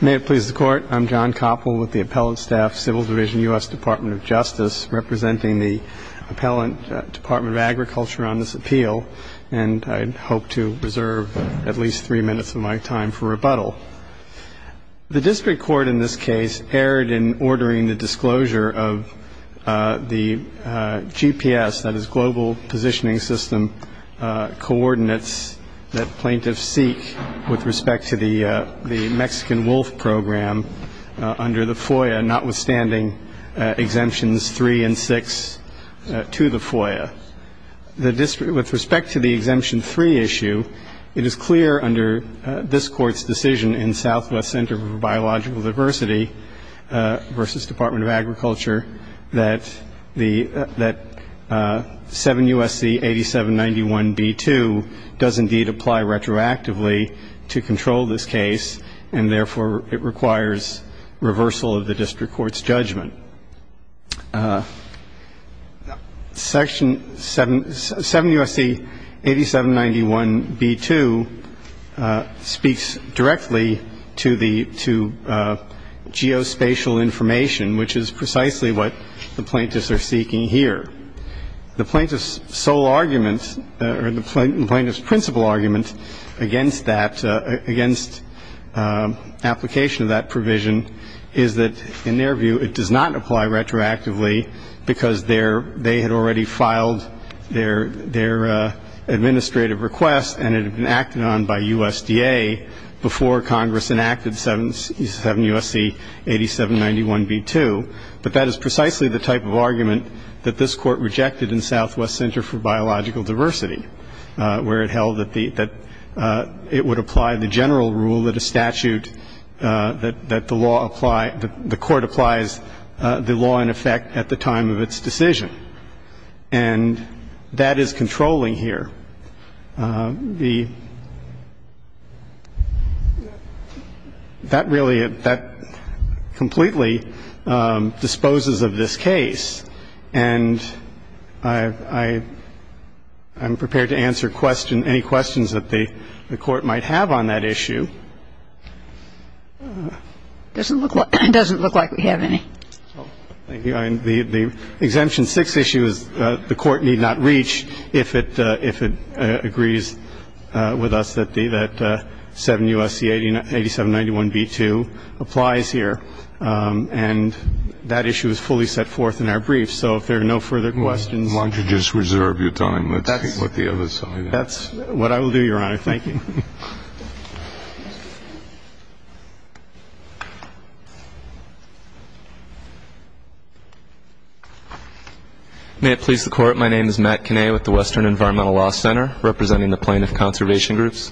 May it please the Court, I'm John Koppel with the Appellate Staff, Civil Division, U.S. Department of Justice, representing the Appellant Department of Agriculture on this appeal, and I hope to reserve at least three minutes of my time for rebuttal. The district court in this case erred in ordering the disclosure of the GPS, that is, Global Positioning System, coordinates that plaintiffs seek with respect to the Mexican wolf program under the FOIA, notwithstanding exemptions three and six to the FOIA. With respect to the exemption three issue, it is clear under this Court's decision in Southwest Center for Biological Diversity v. Department of Agriculture that 7 U.S.C. 8791b2 does indeed apply retroactively to control this case, and therefore it requires reversal of the district court's judgment. But 7 U.S.C. 8791b2 speaks directly to geospatial information, which is precisely what the plaintiffs are seeking here. The plaintiff's sole argument, or the plaintiff's principal argument against that, against application of that provision is that, in their view, it does not apply retroactively because they had already filed their administrative request and it had been acted on by USDA before Congress enacted 7 U.S.C. 8791b2. But that is precisely the type of argument that this Court rejected in Southwest Center for Biological Diversity, where it held that it would apply the general rule that a statute, that the law apply, the Court applies the law in effect at the time of its decision. And that is controlling here. The next question, please. The exemption 6, the exemption 6, that really, that completely disposes of this case. And I'm prepared to answer any questions that the Court might have on that issue. It doesn't look like we have any. Thank you. The exemption 6 issue is the Court need not reach if it agrees with us that 7 U.S.C. 8791b2 applies here. And that issue is fully set forth in our brief. So if there are no further questions. Why don't you just reserve your time? Let's put the other side out. That's what I will do, Your Honor. Thank you. May it please the Court. My name is Matt Kinney with the Western Environmental Law Center, representing the plaintiff conservation groups.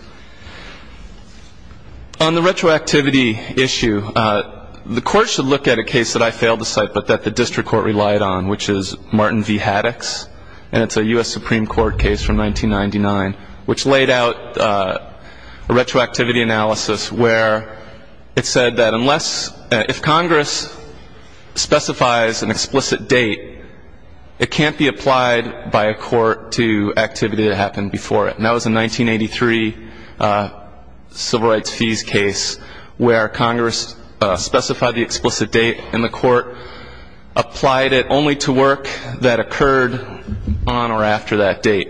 On the retroactivity issue, the Court should look at a case that I failed to cite but that the district court relied on, which is Martin v. Haddox. And it's a U.S. Supreme Court case from 1999, which laid out a retroactivity analysis where it said that unless, if Congress specifies an explicit date, it can't be applied by a court to activity that happened before it. And that was a 1983 civil rights fees case where Congress specified the explicit date and the court applied it only to work that occurred on or after that date.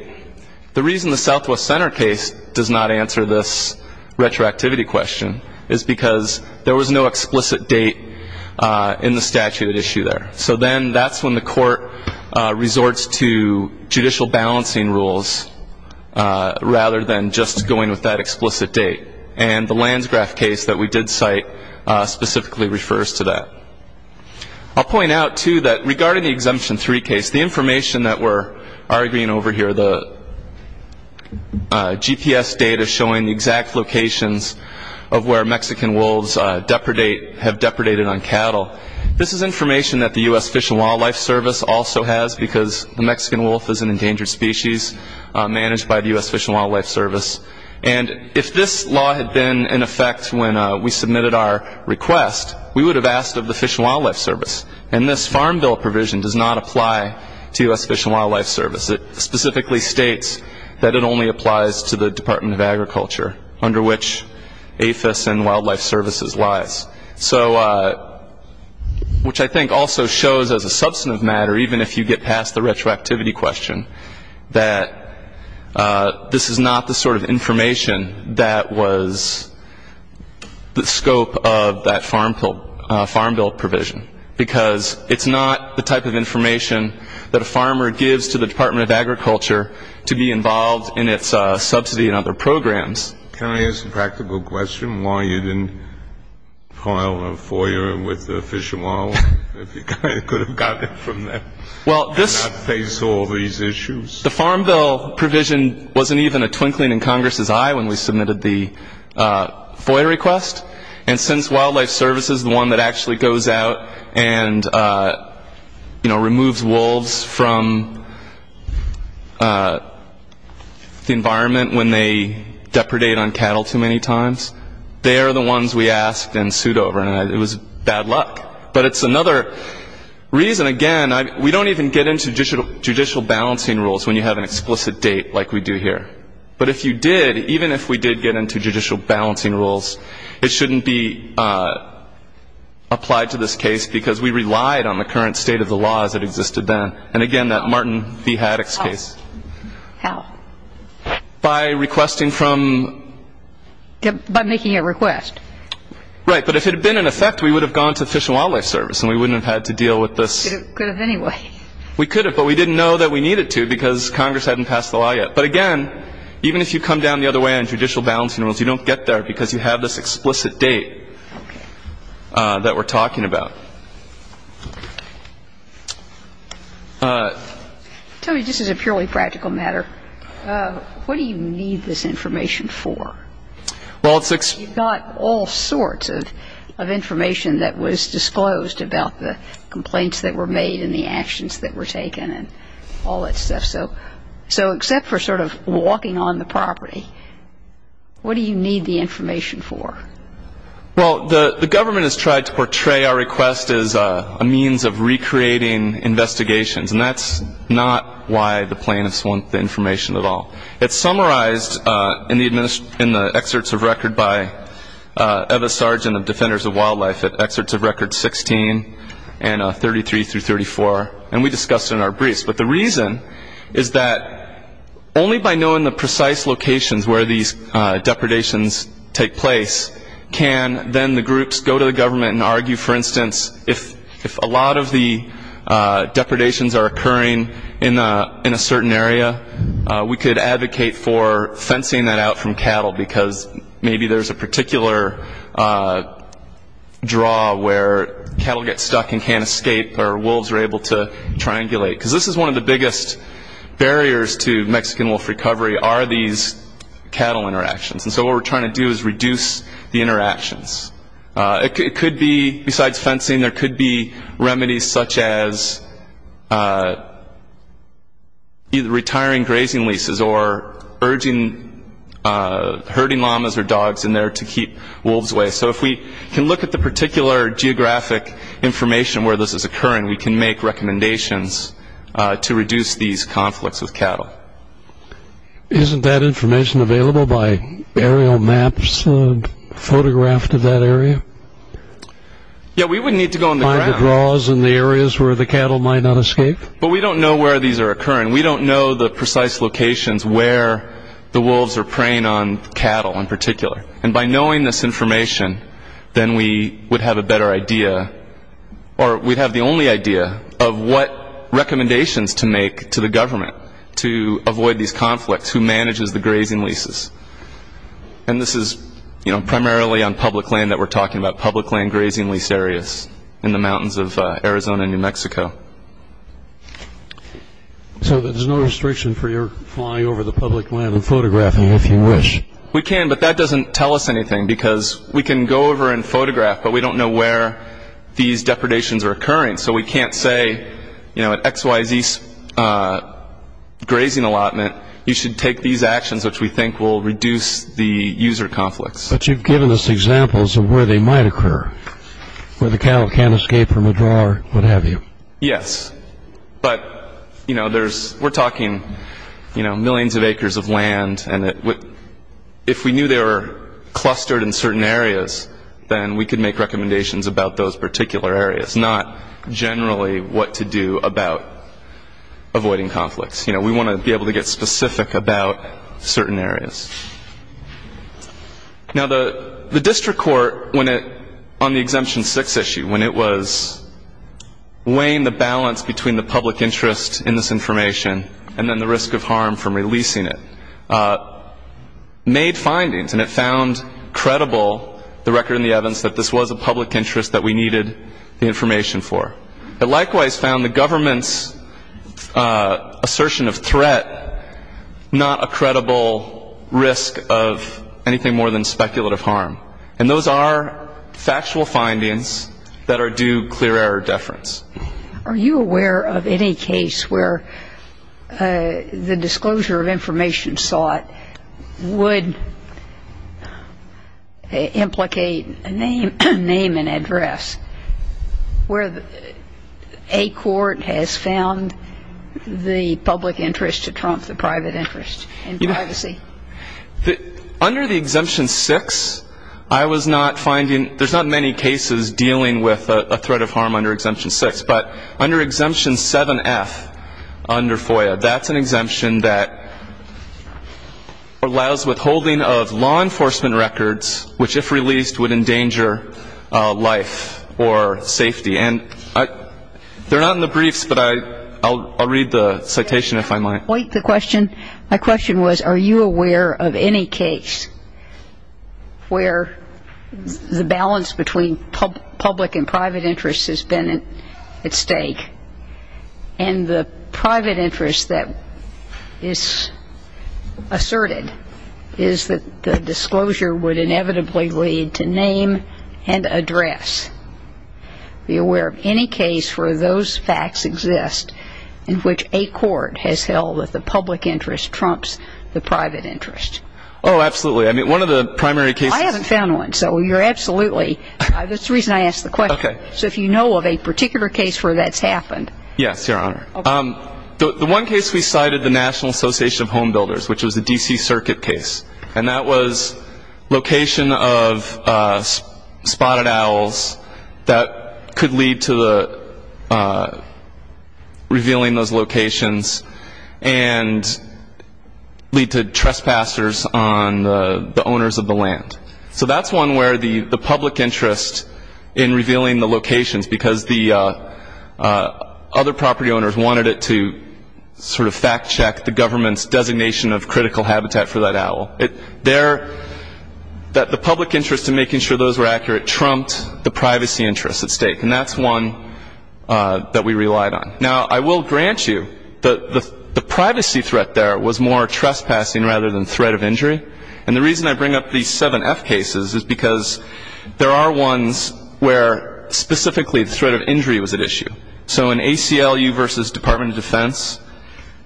The reason the Southwest Center case does not answer this retroactivity question is because there was no explicit date in the statute issue there. So then that's when the court resorts to judicial balancing rules rather than just going with that explicit date. And the Landsgraf case that we did cite specifically refers to that. I'll point out, too, that regarding the Exemption 3 case, the information that we're arguing over here, the GPS data showing the exact locations of where Mexican wolves have depredated on cattle, this is information that the U.S. Fish and Wildlife Service also has because the Mexican wolf is an endangered species managed by the U.S. Fish and Wildlife Service. And if this law had been in effect when we submitted our request, we would have asked of the Fish and Wildlife Service. And this Farm Bill provision does not apply to U.S. Fish and Wildlife Service. It specifically states that it only applies to the Department of Agriculture, under which APHIS and Wildlife Services lies, which I think also shows as a substantive matter, even if you get past the retroactivity question, that this is not the sort of information that was the scope of that Farm Bill provision because it's not the type of information that a farmer gives to the Department of Agriculture to be involved in its subsidy and other programs. Can I ask a practical question? Why you didn't file a FOIA with the Fish and Wildlife if you could have gotten it from them and not face all these issues? The Farm Bill provision wasn't even a twinkling in Congress's eye when we submitted the FOIA request. And since Wildlife Services, the one that actually goes out and removes wolves from the environment when they depredate on cattle too many times, they are the ones we asked and sued over. And it was bad luck. But it's another reason, again, we don't even get into judicial balancing rules when you have an explicit date like we do here. But if you did, even if we did get into judicial balancing rules, it shouldn't be applied to this case because we relied on the current state of the law as it existed then. And again, that Martin B. Haddock's case. How? By requesting from — By making a request. Right. But if it had been in effect, we would have gone to Fish and Wildlife Service and we wouldn't have had to deal with this. We could have anyway. We could have. But we didn't know that we needed to because Congress hadn't passed the law yet. But again, even if you come down the other way on judicial balancing rules, you don't get there because you have this explicit date that we're talking about. I'll tell you, just as a purely practical matter, what do you need this information for? You've got all sorts of information that was disclosed about the complaints that were made and the actions that were taken and all that stuff. So except for sort of walking on the property, what do you need the information for? Well, the government has tried to portray our request as a means of recreating investigations, and that's not why the plaintiffs want the information at all. It's summarized in the excerpts of record by Eva Sargent of Defenders of Wildlife, at excerpts of record 16 and 33 through 34, and we discussed it in our briefs. But the reason is that only by knowing the precise locations where these depredations take place can then the groups go to the government and argue. For instance, if a lot of the depredations are occurring in a certain area, we could advocate for fencing that out from cattle because maybe there's a particular draw where cattle get stuck and can't escape or wolves are able to triangulate. Because this is one of the biggest barriers to Mexican wolf recovery are these cattle interactions. And so what we're trying to do is reduce the interactions. Besides fencing, there could be remedies such as either retiring grazing leases or urging herding llamas or dogs in there to keep wolves away. So if we can look at the particular geographic information where this is occurring, we can make recommendations to reduce these conflicts with cattle. Isn't that information available by aerial maps photographed of that area? Yeah, we would need to go on the ground. Find the draws and the areas where the cattle might not escape? But we don't know where these are occurring. We don't know the precise locations where the wolves are preying on cattle in particular. And by knowing this information, then we would have a better idea, or we'd have the only idea of what recommendations to make to the government to avoid these conflicts who manages the grazing leases. And this is primarily on public land that we're talking about, public land grazing lease areas in the mountains of Arizona and New Mexico. So there's no restriction for your flying over the public land and photographing if you wish? We can, but that doesn't tell us anything because we can go over and photograph, but we don't know where these depredations are occurring. So we can't say, you know, at XYZ's grazing allotment, you should take these actions which we think will reduce the user conflicts. But you've given us examples of where they might occur, where the cattle can't escape from a draw or what have you. Yes, but, you know, we're talking, you know, millions of acres of land, and if we knew they were clustered in certain areas, then we could make recommendations about those particular areas, not generally what to do about avoiding conflicts. You know, we want to be able to get specific about certain areas. Now, the district court, on the Exemption 6 issue, when it was weighing the balance between the public interest in this information and then the risk of harm from releasing it, made findings, and it found credible the record in the evidence that this was a public interest, that we needed the information for. It likewise found the government's assertion of threat not a credible risk of anything more than speculative harm. And those are factual findings that are due clear error deference. Are you aware of any case where the disclosure of information sought would implicate a name and address, where a court has found the public interest to trump the private interest in privacy? Under the Exemption 6, I was not finding, there's not many cases dealing with a threat of harm under Exemption 6. But under Exemption 7F under FOIA, that's an exemption that allows withholding of law enforcement records, which if released would endanger life or safety. And they're not in the briefs, but I'll read the citation if I might. Wait, the question, my question was, are you aware of any case where the balance between public and private interest has been at stake, and the private interest that is asserted is that the disclosure would inevitably lead to name and address? Are you aware of any case where those facts exist in which a court has held that the public interest trumps the private interest? Oh, absolutely. I mean, one of the primary cases. I haven't found one, so you're absolutely, that's the reason I asked the question. Okay. So if you know of a particular case where that's happened. Yes, Your Honor. Okay. The one case we cited, the National Association of Home Builders, which was a D.C. Circuit case, and that was location of spotted owls that could lead to the revealing those locations and lead to trespassers on the owners of the land. So that's one where the public interest in revealing the locations because the other property owners wanted it to sort of fact check the government's designation of critical habitat for that owl. The public interest in making sure those were accurate trumped the privacy interest at stake, and that's one that we relied on. Now, I will grant you that the privacy threat there was more trespassing rather than threat of injury, and the reason I bring up these seven F cases is because there are ones where specifically the threat of injury was at issue. So in ACLU versus Department of Defense,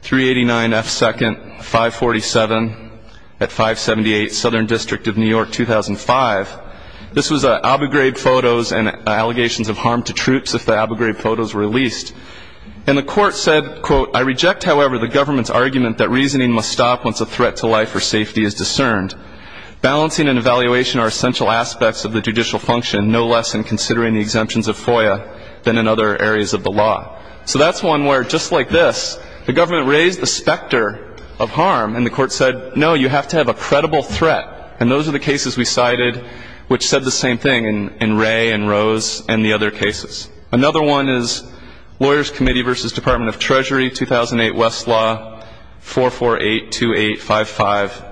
389F2nd, 547 at 578 Southern District of New York, 2005, this was Abu Ghraib photos and allegations of harm to troops if the Abu Ghraib photos were released. And the court said, quote, I reject, however, the government's argument that reasoning must stop once a threat to life or safety is discerned. Balancing and evaluation are essential aspects of the judicial function, no less in considering the exemptions of FOIA than in other areas of the law. So that's one where, just like this, the government raised the specter of harm, and the court said, no, you have to have a credible threat, and those are the cases we cited which said the same thing in Ray and Rose and the other cases. Another one is Lawyers Committee versus Department of Treasury, 2008, Westlaw, 4482855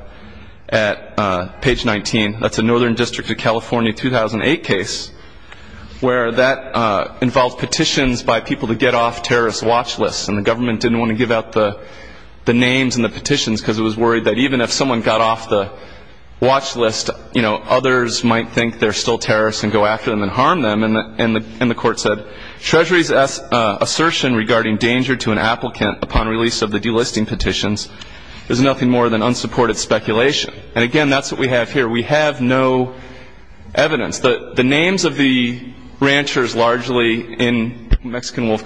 at page 19. That's a Northern District of California 2008 case where that involved petitions by people to get off terrorist watch lists, and the government didn't want to give out the names and the petitions because it was worried that even if someone got off the watch list, you know, others might think they're still terrorists and go after them and harm them. And the court said, Treasury's assertion regarding danger to an applicant upon release of the delisting petitions is nothing more than unsupported speculation. And, again, that's what we have here. We have no evidence. The names of the ranchers largely in Mexican wolf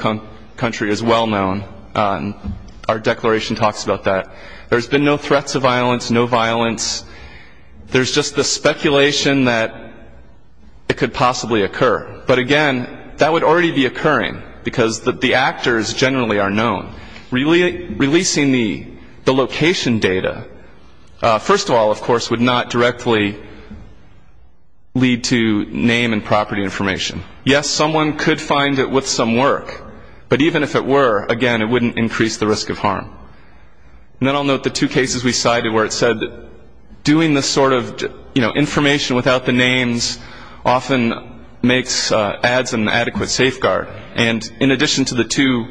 country is well known. Our declaration talks about that. There's been no threats of violence, no violence. There's just the speculation that it could possibly occur. But, again, that would already be occurring because the actors generally are known. Releasing the location data, first of all, of course, would not directly lead to name and property information. Yes, someone could find it with some work, but even if it were, again, it wouldn't increase the risk of harm. And then I'll note the two cases we cited where it said doing this sort of, you know, information without the names often makes ads an adequate safeguard. And in addition to the two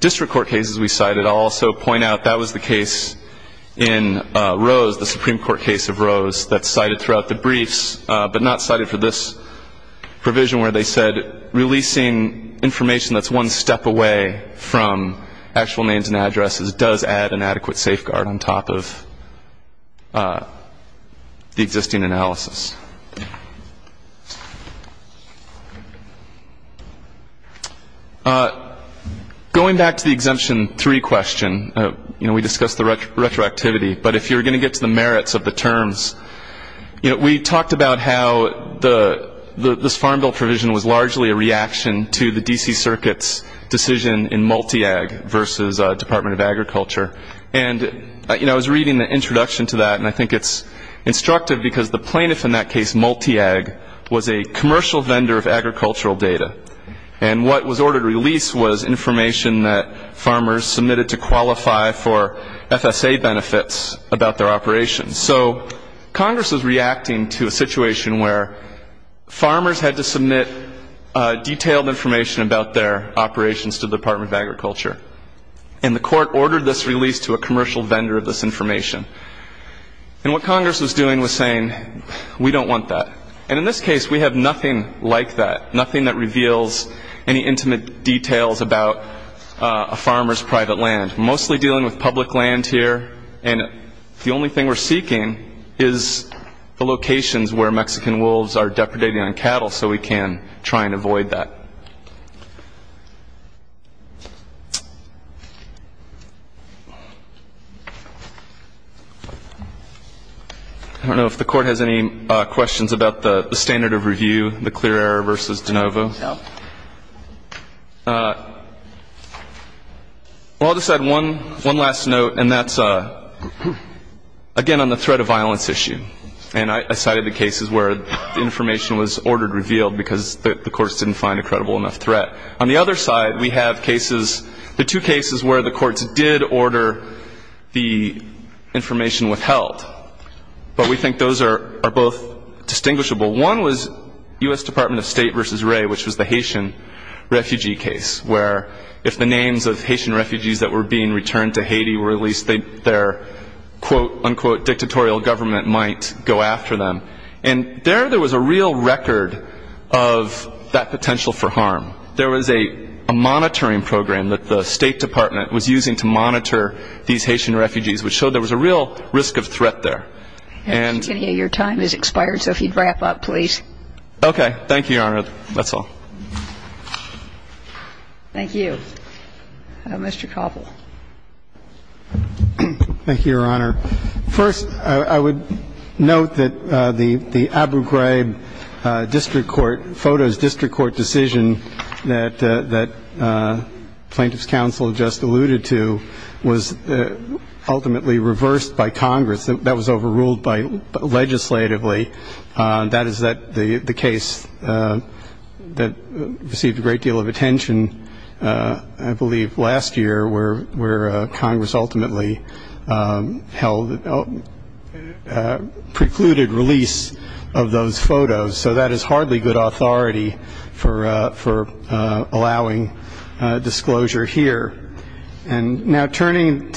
district court cases we cited, I'll also point out that was the case in Rose, the Supreme Court case of Rose that's cited throughout the briefs but not cited for this provision where they said releasing information that's one step away from actual names and addresses does add an adequate safeguard on top of the existing analysis. Going back to the Exemption 3 question, you know, we discussed the retroactivity, but if you're going to get to the merits of the terms, you know, we talked about how this Farm Bill provision was largely a reaction to the D.C. Circuit's decision in Multiag versus Department of Agriculture. And, you know, I was reading the introduction to that, and I think it's instructive because the plaintiff in that case, Multiag, was a commercial vendor of agricultural data. And what was ordered to release was information that farmers submitted to qualify for FSA benefits about their operations. So Congress was reacting to a situation where farmers had to submit detailed information about their operations to the Department of Agriculture. And the court ordered this release to a commercial vendor of this information. And what Congress was doing was saying, we don't want that. And in this case, we have nothing like that, nothing that reveals any intimate details about a farmer's private land, mostly dealing with public land here. And the only thing we're seeking is the locations where Mexican wolves are depredating on cattle so we can try and avoid that. I don't know if the Court has any questions about the standard of review, the clear error versus de novo. No. Well, I'll just add one last note, and that's, again, on the threat of violence issue. And I cited the cases where the information was ordered revealed because the courts didn't find a credible enough threat. On the other side, we have cases, the two cases where the courts did order the information withheld. But we think those are both distinguishable. One was U.S. Department of State versus Ray, which was the Haitian refugee case, where if the names of Haitian refugees that were being returned to Haiti were released, their, quote, unquote, dictatorial government might go after them. And there, there was a real record of that potential for harm. There was a monitoring program that the State Department was using to monitor these Haitian refugees, which showed there was a real risk of threat there. And I think we have time for questions. I'm sorry. I didn't hear you. I didn't hear you. Your time has expired, so if you'd wrap up, please. Okay. Thank you, Your Honor. That's all. Thank you. Mr. Cobble. Thank you, Your Honor. First, I would note that the Abu Ghraib district court, FOTO's district court decision that Plaintiffs' Counsel just alluded to was ultimately reversed by Congress. That was overruled by legislatively. That is the case that received a great deal of attention, I believe, last year, where Congress ultimately precluded release of those photos. So that is hardly good authority for allowing disclosure here. And now turning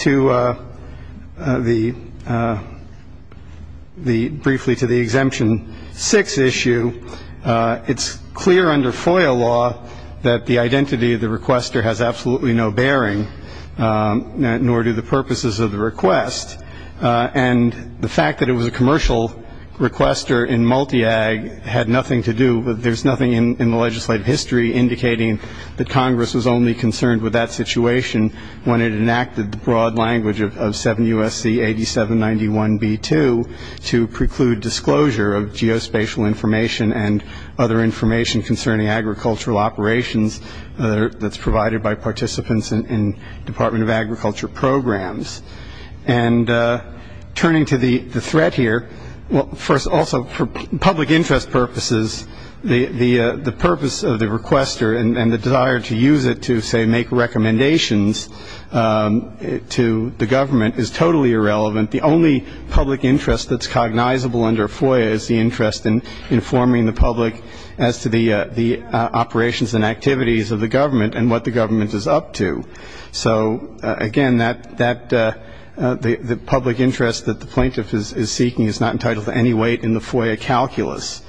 briefly to the Exemption 6 issue, it's clear under FOIA law that the identity of the requester has absolutely no bearing, nor do the purposes of the request. And the fact that it was a commercial requester in multi-ag had nothing to do with there's nothing in the legislative history indicating that Congress was only concerned with that situation when it enacted the broad language of 7 U.S.C. 8791B2 to preclude disclosure of geospatial information and other information concerning agricultural operations that's provided by participants in Department of Agriculture programs. And turning to the threat here, first also for public interest purposes, the purpose of the requester and the desire to use it to, say, make recommendations to the government is totally irrelevant. The only public interest that's cognizable under FOIA is the interest in informing the public as to the operations and activities of the government and what the government is up to. So, again, the public interest that the plaintiff is seeking is not entitled to any weight in the FOIA calculus.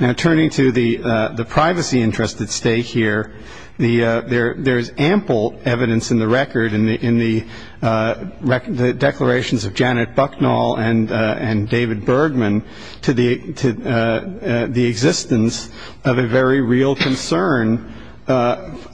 Now, turning to the privacy interests at stake here, there is ample evidence in the record in the declarations of Janet Bucknall and David Bergman to the existence of a very real concern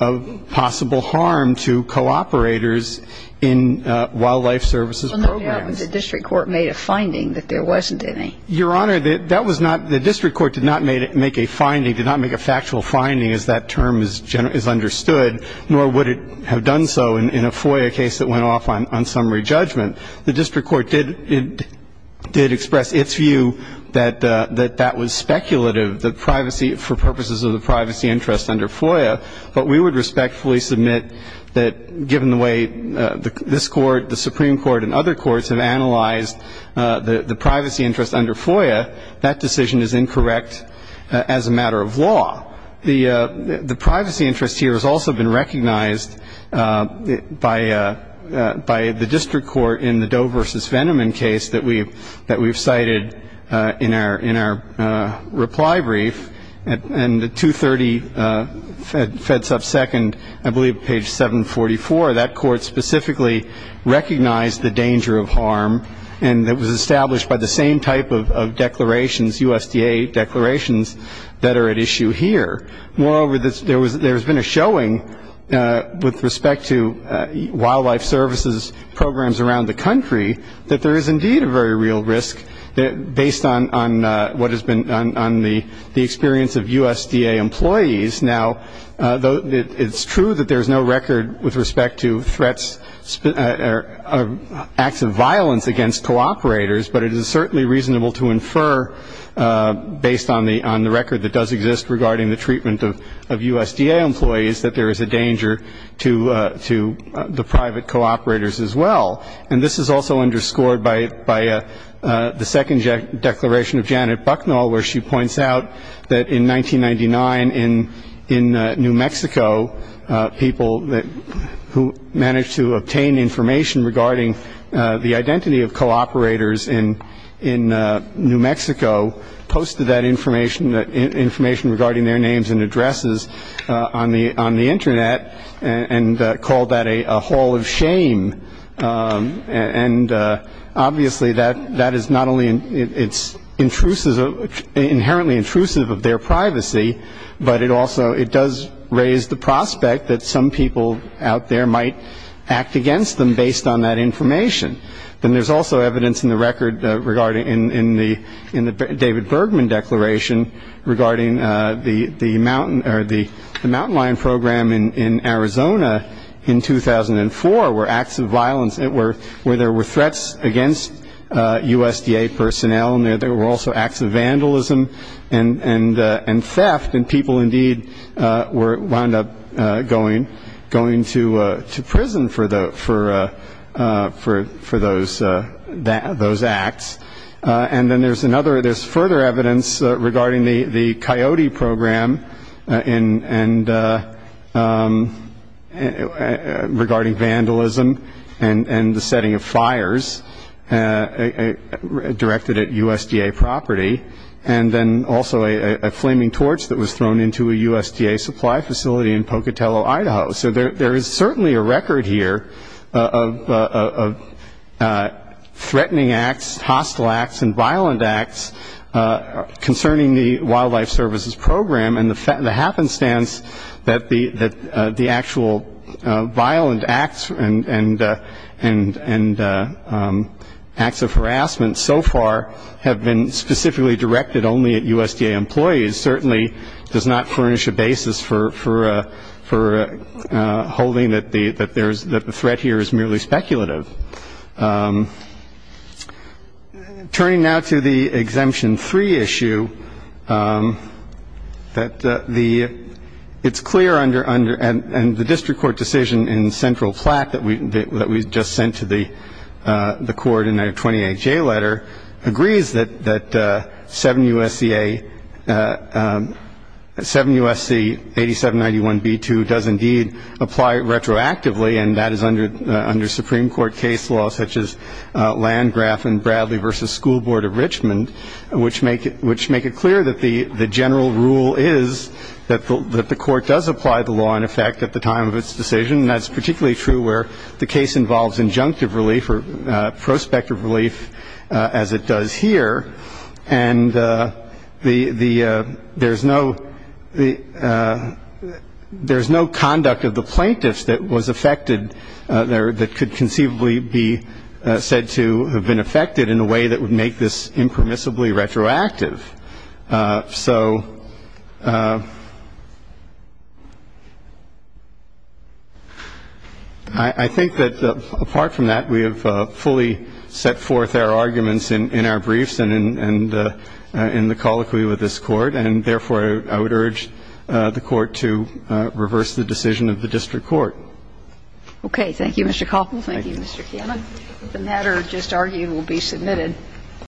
of possible harm to cooperators in wildlife services programs. So no doubt the district court made a finding that there wasn't any. Your Honor, that was not the district court did not make a finding, did not make a factual finding as that term is understood, nor would it have done so in a FOIA case that went off on summary judgment. The district court did express its view that that was speculative, the privacy for purposes of the privacy interest under FOIA, but we would respectfully submit that given the way this court, the Supreme Court, and other courts have analyzed the privacy interest under FOIA, that decision is incorrect as a matter of law. The privacy interest here has also been recognized by the district court in the Doe v. Veneman case that we've cited in our reply brief. And the 230 fed sub second, I believe page 744, that court specifically recognized the danger of harm and it was established by the same type of declarations, USDA declarations, that are at issue here. Moreover, there has been a showing with respect to wildlife services programs around the country that there is indeed a very real risk based on what has been done on the experience of USDA employees. Now, it's true that there's no record with respect to threats or acts of violence against co-operators, but it is certainly reasonable to infer based on the record that does exist regarding the treatment of USDA employees that there is a danger to the private co-operators as well. And this is also underscored by the second declaration of Janet Bucknall, where she points out that in 1999 in New Mexico, people who managed to obtain information regarding the identity of co-operators in New Mexico posted that information, information regarding their names and addresses on the Internet and called that a hall of shame. And obviously that is not only it's intrusive, inherently intrusive of their privacy, but it also it does raise the prospect that some people out there might act against them based on that information. Then there is also evidence in the record regarding in the David Bergman declaration regarding the mountain lion program in Arizona in 2004 where acts of violence, where there were threats against USDA personnel and there were also acts of vandalism and theft and people indeed wound up going to prison for those acts. And then there is further evidence regarding the coyote program and regarding vandalism and the setting of fires directed at USDA property. And then also a flaming torch that was thrown into a USDA supply facility in Pocatello, Idaho. So there is certainly a record here of threatening acts, hostile acts, and violent acts concerning the Wildlife Services Program and the happenstance that the actual violent acts and acts of harassment so far have been specifically directed only at USDA employees. It certainly does not furnish a basis for holding that the threat here is merely speculative. Turning now to the Exemption 3 issue, it's clear under the district court decision in the central plaque that we just sent to the court in our 28-J letter agrees that 7 U.S.C. 8791-B2 does indeed apply retroactively and that is under Supreme Court case law such as Landgraf and Bradley v. School Board of Richmond, which make it clear that the general rule is that the court does apply the law in effect at the time of its decision. And that's particularly true where the case involves injunctive relief or prospective relief as it does here. And there is no conduct of the plaintiffs that was affected that could conceivably be said to have been affected in a way that would make this impermissibly retroactive. So I think that apart from that, we have fully set forth our arguments in our briefs and in the colloquy with this court, and therefore, I would urge the Court to reverse the decision of the district court. Okay. Thank you, Mr. Koppel. Thank you, Mr. Kianna. The matter just argued will be submitted.